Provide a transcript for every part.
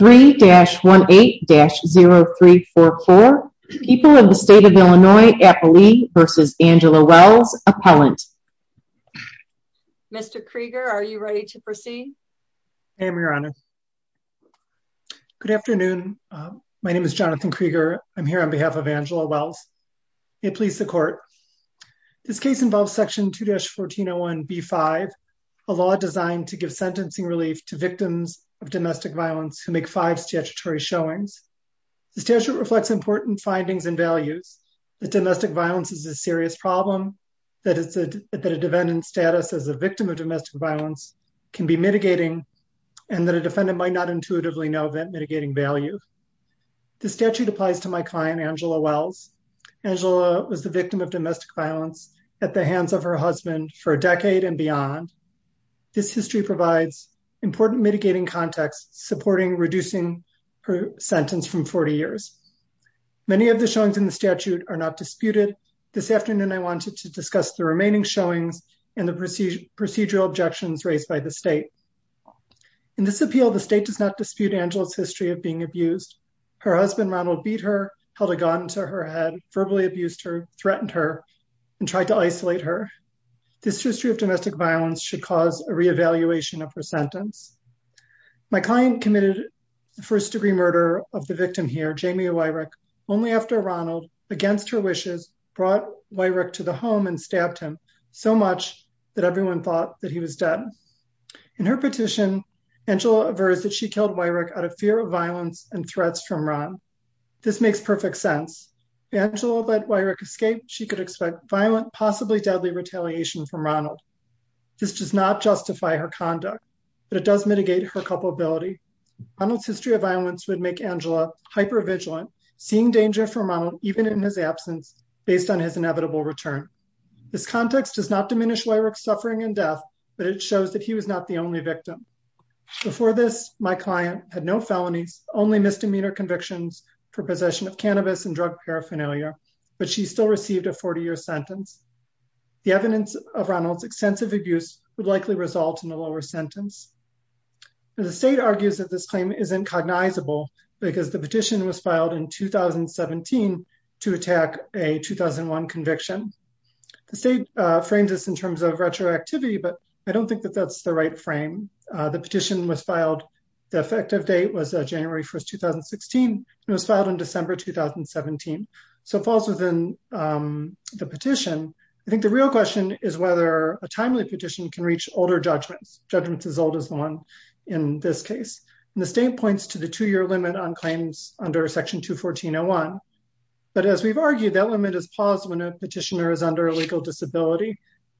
3-18-0344. People in the state of Illinois, Appalee v. Angela Wells, Appellant. Mr. Krieger, are you ready to proceed? I am, Your Honor. Good afternoon. My name is Jonathan Krieger. I'm here on behalf of Angela Wells. May it please the Court. This case involves Section 2-1401b-5, a law designed to give five statutory showings. The statute reflects important findings and values that domestic violence is a serious problem, that a defendant's status as a victim of domestic violence can be mitigating, and that a defendant might not intuitively know that mitigating value. The statute applies to my client, Angela Wells. Angela was the victim of domestic violence at the hands of her husband for a decade and beyond. This history provides important mitigating context supporting reducing her sentence from 40 years. Many of the showings in the statute are not disputed. This afternoon, I wanted to discuss the remaining showings and the procedural objections raised by the state. In this appeal, the state does not dispute Angela's history of being abused. Her husband, Ronald, beat her, held a gun to her head, verbally abused her, threatened her, and tried to isolate her. This history of domestic violence should cause a re-evaluation of her first-degree murder of the victim here, Jamie Weirich, only after Ronald, against her wishes, brought Weirich to the home and stabbed him so much that everyone thought that he was dead. In her petition, Angela aversed that she killed Weirich out of fear of violence and threats from Ron. This makes perfect sense. If Angela let Weirich escape, she could expect violent, possibly deadly retaliation from Ronald. This does not justify her conduct, but it does mitigate her ability. Ronald's history of violence would make Angela hyper-vigilant, seeing danger from Ronald, even in his absence, based on his inevitable return. This context does not diminish Weirich's suffering and death, but it shows that he was not the only victim. Before this, my client had no felonies, only misdemeanor convictions for possession of cannabis and drug paraphernalia, but she still received a 40-year sentence. The evidence of Ronald's extensive abuse would likely result in a lower sentence. The state argues that this claim isn't cognizable because the petition was filed in 2017 to attack a 2001 conviction. The state frames this in terms of retroactivity, but I don't think that that's the right frame. The petition was filed, the effective date was January 1, 2016, and was filed in December 2017, so it falls within the petition. I think the real question is whether a timely petition can reach older judgments, judgments as old as the one in this case. The state points to the two-year limit on claims under section 214.01, but as we've argued, that limit is paused when a petitioner is under a legal disability,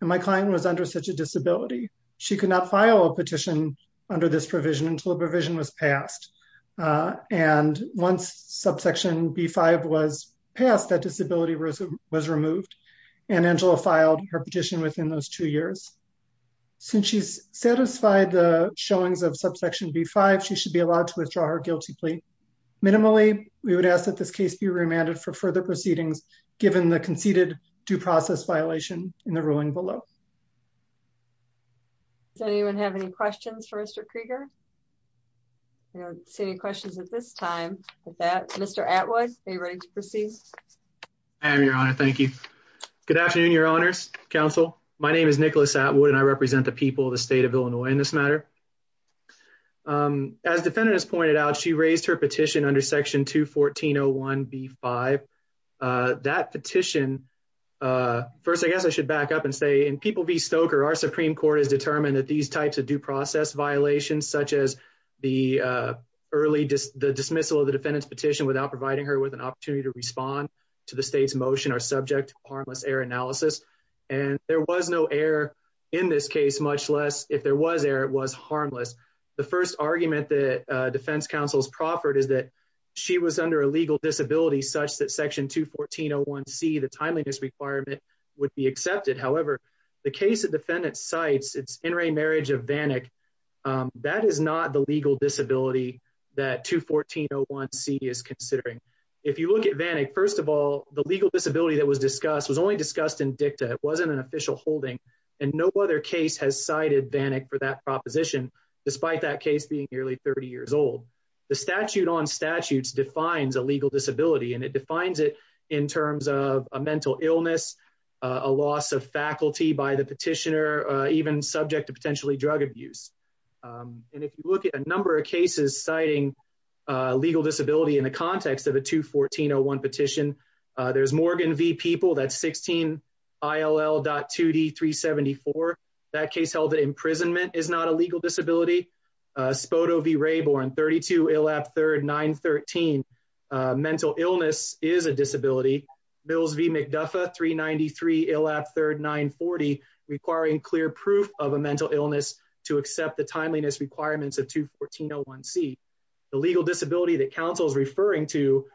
and my client was under such a disability. She could not file a petition under this provision until the provision was passed, and once subsection B-5 was passed, that disability was removed, and Angela filed her petition within those two years. Since she's satisfied the showings of subsection B-5, she should be allowed to withdraw her guilty plea. Minimally, we would ask that this case be remanded for further proceedings, given the conceded due process violation in the ruling below. Does anyone have any questions for Mr. Krieger? I don't see any questions at this time. With that, Mr. Atwood, are you ready to proceed? I am, Your Honor. Thank you. Good afternoon, Your Honors, Counsel. My name is Nicholas Atwood, and I represent the people of the state of Illinois in this matter. As the defendant has pointed out, she raised her petition under section 214.01B-5. That petition, first, I guess I should back up and say, in People v. Stoker, our Supreme Court has determined that these types of due process violations, such the early dismissal of the defendant's petition without providing her with an opportunity to respond to the state's motion, are subject to harmless error analysis. And there was no error in this case, much less, if there was error, it was harmless. The first argument that defense counsels proffered is that she was under a legal disability such that section 214.01C, the timeliness requirement, would be accepted. However, the case the defendant cites, it's in re marriage of Vanek, that is not the legal disability that 214.01C is considering. If you look at Vanek, first of all, the legal disability that was discussed was only discussed in dicta. It wasn't an official holding. And no other case has cited Vanek for that proposition, despite that case being nearly 30 years old. The statute on statutes defines a legal disability, and it defines it in terms of a mental illness, a loss of faculty by the petitioner, even subject to potentially drug abuse. And if you look at a number of cases citing legal disability in the context of a 214.01 petition, there's Morgan v. People, that's 16 ILL.2D.374. That case held that imprisonment is not a legal disability. Spoto v. Raybourn, 32 ILAP3RD.913, mental illness is a disability. Mills v. McDuffa, 393 ILAP3RD.940, requiring clear proof of a mental illness to accept the timeliness requirements of 214.01C. The legal disability that counsel is referring to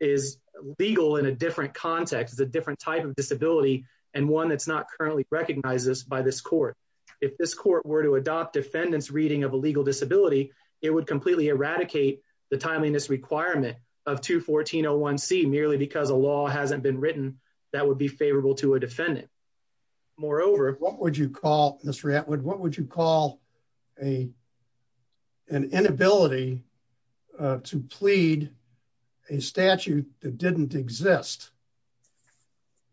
is legal in a different context, a different type of disability, and one that's not currently recognized by this court. If this court were to adopt defendant's reading of a legal disability, it would completely eradicate the timeliness requirement of 214.01C, merely because a law hasn't been written that would be favorable to a defendant. Moreover, what would you call, Mr. Atwood, what would you call an inability to plead a statute that didn't exist?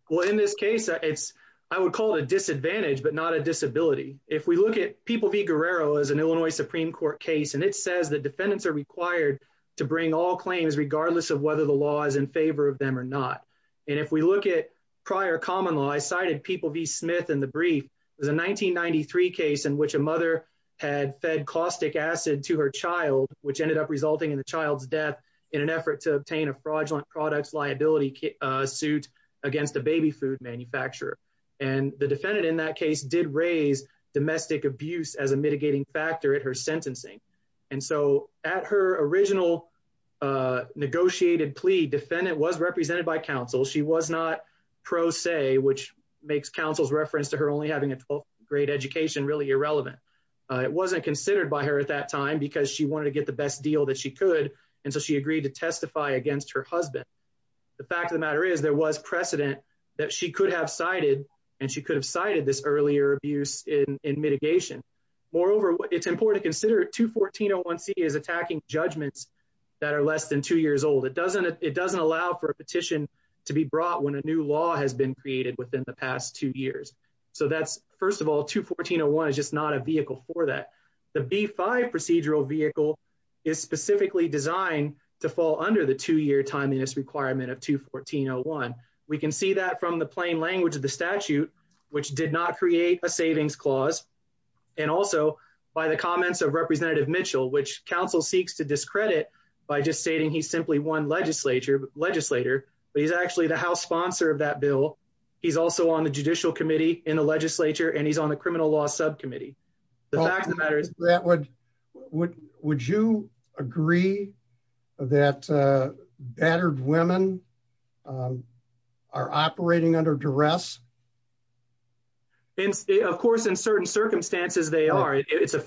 Well, in this case, I would call it a disadvantage, but not a disability. If we look at People v. Guerrero as an Illinois Supreme Court case, and it says that defendants are required to bring all claims regardless of whether the law is in favor of them or not. If we look at prior common law, I cited People v. Smith in the brief, it was a 1993 case in which a mother had fed caustic acid to her child, which ended up resulting in the child's death in an effort to obtain a fraudulent products liability suit against a baby food manufacturer. The defendant in that case did raise domestic abuse as a mitigating factor at her sentencing. At her original negotiated plea, defendant was represented by counsel. She was not pro se, which makes counsel's reference to her only having a great education really irrelevant. It wasn't considered by her at that time because she wanted to get the best deal that she could, and so she agreed to testify against her husband. The fact of the matter is there was precedent that she could have cited, and she could have cited this earlier abuse in mitigation. Moreover, it's important to consider 214.01C is attacking judgments that are less than two years old. It doesn't allow for a petition to be brought when a new law has been created within the past two years. So that's, first of all, 214.01C is just not a vehicle for that. The B-5 procedural vehicle is specifically designed to fall under the two-year timeliness requirement of 214.01C. We can see that from the plain language of the statute, which did not create a savings clause, and also by the comments of representative Mitchell, which counsel seeks to discredit by just stating he's simply one legislator, but he's actually the house sponsor of that bill. He's also on the judicial committee in the legislature, and he's on the criminal law subcommittee. The fact of the matter is... Would you agree that battered women are operating under duress? Of course, in certain circumstances, they are. It's a the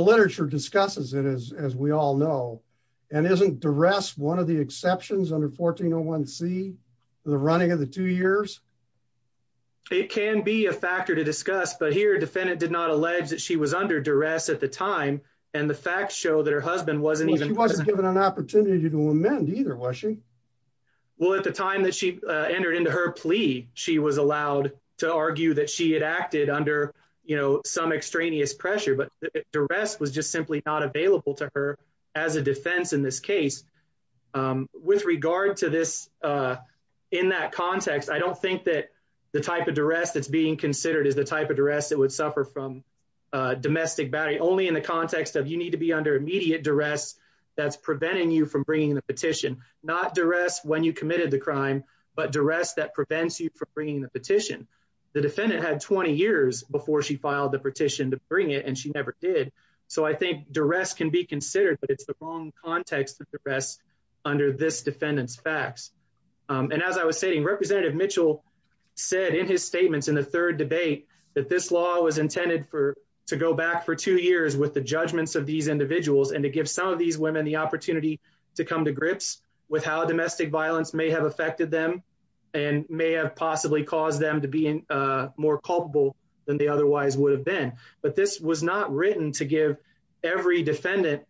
literature discusses it, as we all know, and isn't duress one of the exceptions under 1401C for the running of the two years? It can be a factor to discuss, but here a defendant did not allege that she was under duress at the time, and the facts show that her husband wasn't even... She wasn't given an opportunity to amend either, was she? Well, at the time that she entered into her plea, she was allowed to argue that she had acted under, you know, some extraneous pressure, but duress was just simply not available to her as a defense in this case. With regard to this, in that context, I don't think that the type of duress that's being considered is the type of duress that would suffer from domestic battery, only in the context of you need to be under immediate duress that's preventing you from bringing the petition. Not duress when you committed the crime, but duress that prevents you from bringing the petition. The defendant had 20 years before she filed the petition to bring it, and she never did, so I think duress can be considered, but it's the wrong context to duress under this defendant's facts, and as I was saying, Representative Mitchell said in his statements in the third debate that this law was intended for to go back for two years with the judgments of these individuals and to give some of these women the opportunity to come to grips with how domestic violence may have affected them and may have caused them to be more culpable than they otherwise would have been, but this was not written to give every defendant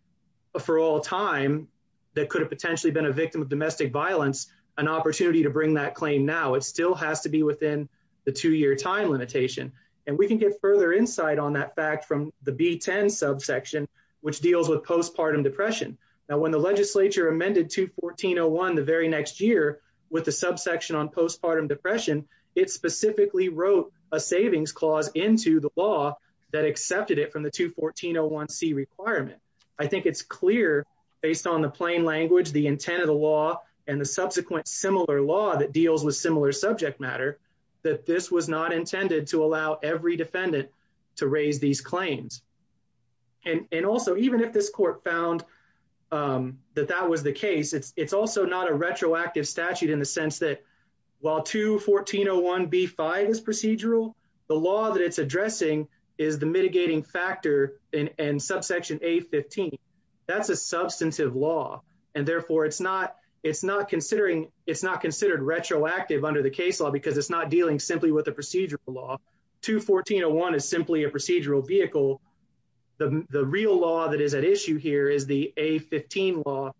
for all time that could have potentially been a victim of domestic violence an opportunity to bring that claim now. It still has to be within the two-year time limitation, and we can get further insight on that fact from the B-10 subsection, which deals with postpartum depression. Now, when the legislature amended 214-01 the very next year with the subsection on postpartum depression, it specifically wrote a savings clause into the law that accepted it from the 214-01c requirement. I think it's clear based on the plain language, the intent of the law, and the subsequent similar law that deals with similar subject matter that this was not intended to allow every defendant to raise these claims, and also even if this court found that that was the case, it's also not a retroactive statute in the sense that while 214-01b-5 is procedural, the law that it's addressing is the mitigating factor in subsection A-15. That's a substantive law, and therefore it's not considered retroactive under the case law because it's not dealing simply with a procedural law. 214-01 is simply a procedural vehicle. The real law that is at issue here is the A-15 law,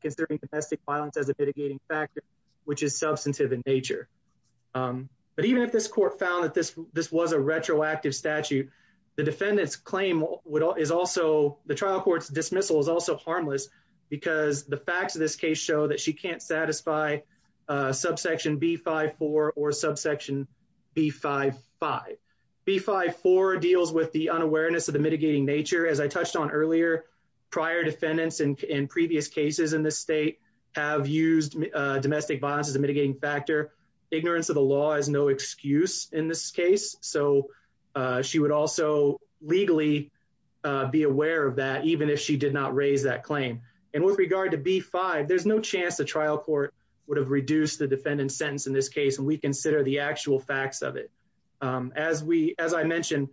considering domestic violence as a mitigating factor, which is substantive in nature. But even if this court found that this was a retroactive statute, the defendant's claim is also, the trial court's dismissal is also harmless because the facts of this case show that she can't satisfy subsection B-54 or subsection B-55. B-54 deals with the unawareness of the mitigating nature. As I touched on earlier, prior defendants in previous cases in this state have used domestic violence as a mitigating factor. Ignorance of the law is no excuse in this case, so she would also legally be aware of that even if she did not raise that claim. And with regard to B-5, there's no chance the trial court would have reduced the defendant's sentence in this case when we consider the actual facts of it. As I mentioned,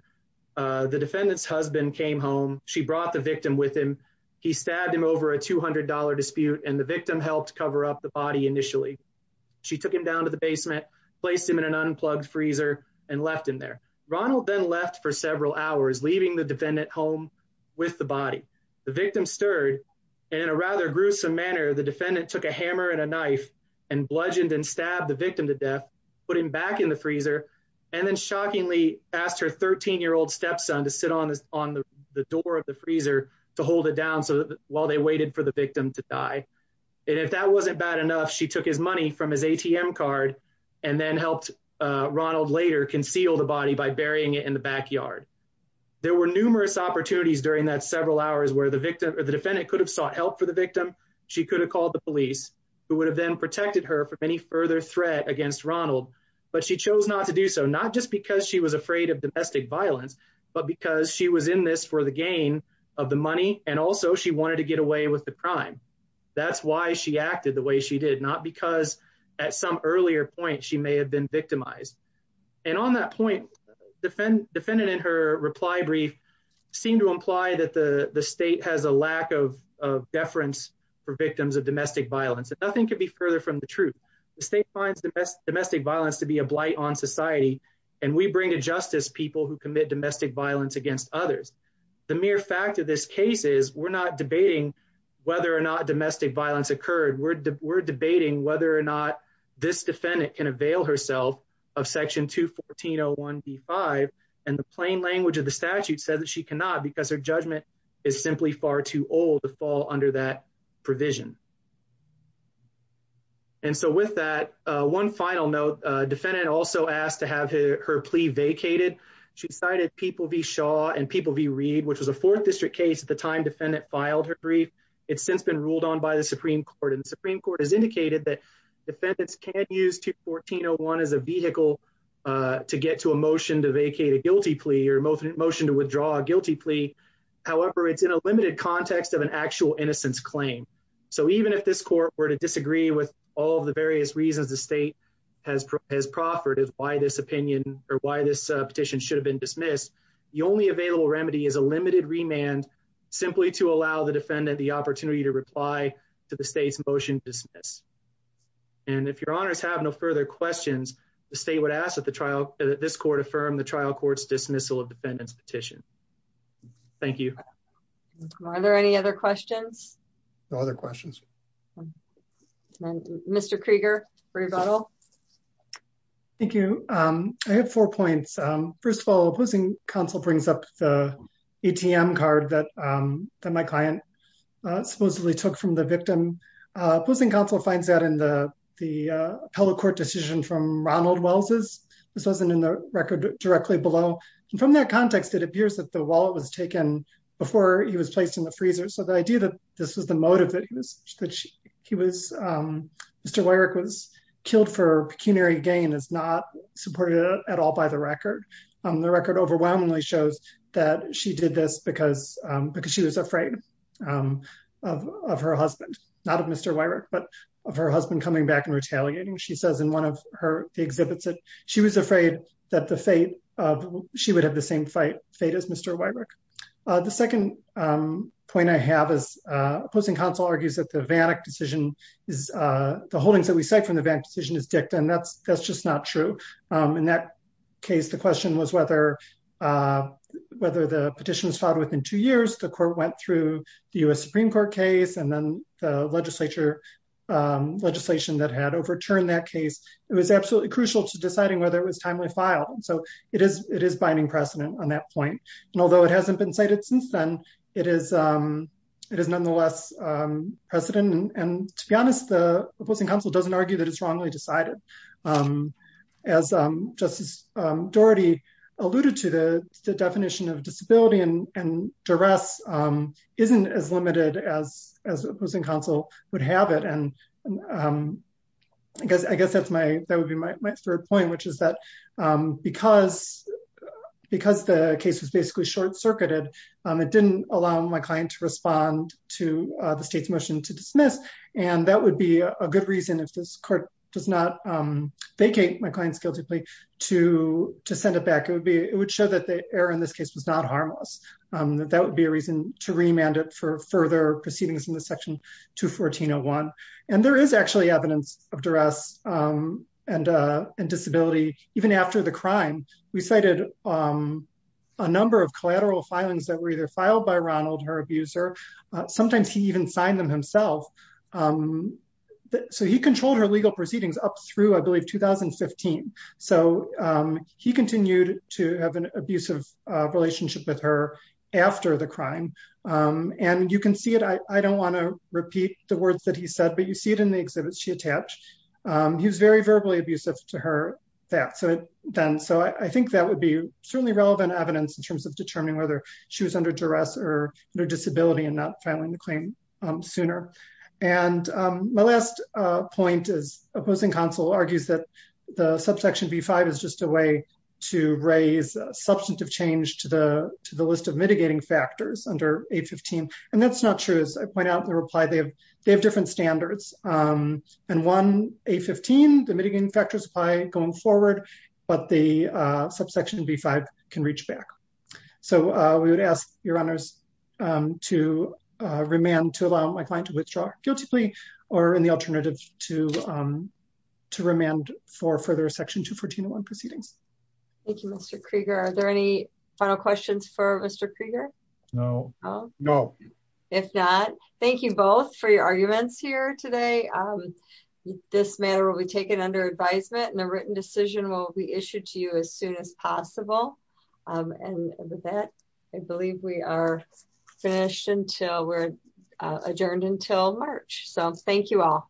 the defendant's husband came home. She brought the victim with him. He stabbed him over a $200 dispute, and the victim helped cover up the body initially. She took him down to the basement, placed him in an unplugged freezer, and left him there. Ronald then left for several hours, leaving the defendant home with the body. The victim stirred, and in a rather gruesome manner, the defendant took a hammer and a knife and bludgeoned and stabbed the victim to death, put him back in the freezer, and then shockingly asked her 13-year-old stepson to sit on the door of the freezer to hold it down while they waited for the victim to die. And if that wasn't bad enough, she took his money from his ATM card and then helped Ronald later conceal the body by burying it in the backyard. There were numerous opportunities during that several hours where the defendant could have sought help for the victim. She could have called the police, who would have then protected her from any further threat against Ronald. But she chose not to do so, not just because she was afraid of domestic violence, but because she was in this for the gain of the money, and also she wanted to get away with the crime. That's why she acted the way she did, not because at some earlier point she may have been victimized. And on that point, the defendant in her reply brief seemed to imply that the state has a lack of deference for victims of domestic violence, and nothing could be further from the truth. The state finds domestic violence to be a blight on society, and we bring to justice people who commit domestic violence against others. The mere fact of this case is we're not debating whether or not domestic violence occurred. We're debating whether or not this defendant can avail herself of section 214.01b.5, and the plain language of the statute says that she cannot because her judgment is simply far too old to fall under that provision. And so with that, one final note, defendant also asked to have her plea vacated. She cited People v. Shaw and People v. Reed, which was a fourth district case at the time defendant filed her brief. It's since been ruled on by the Supreme Court, and the Supreme Court has indicated that 1401 is a vehicle to get to a motion to vacate a guilty plea or motion to withdraw a guilty plea. However, it's in a limited context of an actual innocence claim. So even if this court were to disagree with all the various reasons the state has proffered as why this opinion or why this petition should have been dismissed, the only available remedy is a limited remand simply to allow the defendant the opportunity to reply to the state's motion to dismiss. And if your honors have no further questions, the state would ask that the trial, that this court affirm the trial court's dismissal of defendant's petition. Thank you. Are there any other questions? No other questions. Mr. Krieger for rebuttal. Thank you. I have four points. First of all, opposing counsel brings up the ATM card that my client supposedly took from the victim. Opposing counsel finds that in the court decision from Ronald Wells's, this wasn't in the record directly below. And from that context, it appears that the wallet was taken before he was placed in the freezer. So the idea that this was the motive that he was, Mr. Weyrich was killed for pecuniary gain is not supported at all by the record. The record overwhelmingly shows that she did this because she was afraid of her husband, not of Mr. Weyrich, but of her husband coming back and retaliating. She says in one of her exhibits that she was afraid that the fate of, she would have the same fate as Mr. Weyrich. The second point I have is opposing counsel argues that the VANAC decision is, the holdings that we cite from the VANAC decision is dicked. And that's just not true. In that case, the question was whether the petition was filed within two years, the court went through the U.S. Supreme Court case, and then the legislature, legislation that had overturned that case. It was absolutely crucial to deciding whether it was timely file. So it is binding precedent on that point. And although it hasn't been cited since then, it is nonetheless precedent. And to be honest, the opposing counsel doesn't argue that it's wrongly decided. As Justice Doherty alluded to, the definition of opposing counsel would have it. And I guess that would be my third point, which is that because the case was basically short circuited, it didn't allow my client to respond to the state's motion to dismiss. And that would be a good reason if this court does not vacate my client's guilty plea to send it back. It would show that the error in this case was not harmless. That would be a reason to remand it for further proceedings in the section 214-01. And there is actually evidence of duress and disability. Even after the crime, we cited a number of collateral filings that were either filed by Ronald, her abuser. Sometimes he even signed them himself. So he controlled her legal proceedings up through, I believe, 2015. So he continued to have an abusive relationship with her after the crime. And you can see it, I don't want to repeat the words that he said, but you see it in the exhibits she attached. He was very verbally abusive to her then. So I think that would be certainly relevant evidence in terms of determining whether she was under duress or under disability and not filing the to raise substantive change to the list of mitigating factors under 815. And that's not true. As I point out in the reply, they have different standards. And one, 815, the mitigating factors apply going forward, but the subsection B-5 can reach back. So we would ask your honors to remand to allow my client to withdraw her guilty plea or in the alternative to remand for further section 214 proceedings. Thank you, Mr. Krieger. Are there any final questions for Mr. Krieger? No, no. If not, thank you both for your arguments here today. This matter will be taken under advisement and the written decision will be issued to you as soon as possible. And with that, I believe we are finished until we're adjourned until March. So thank you all.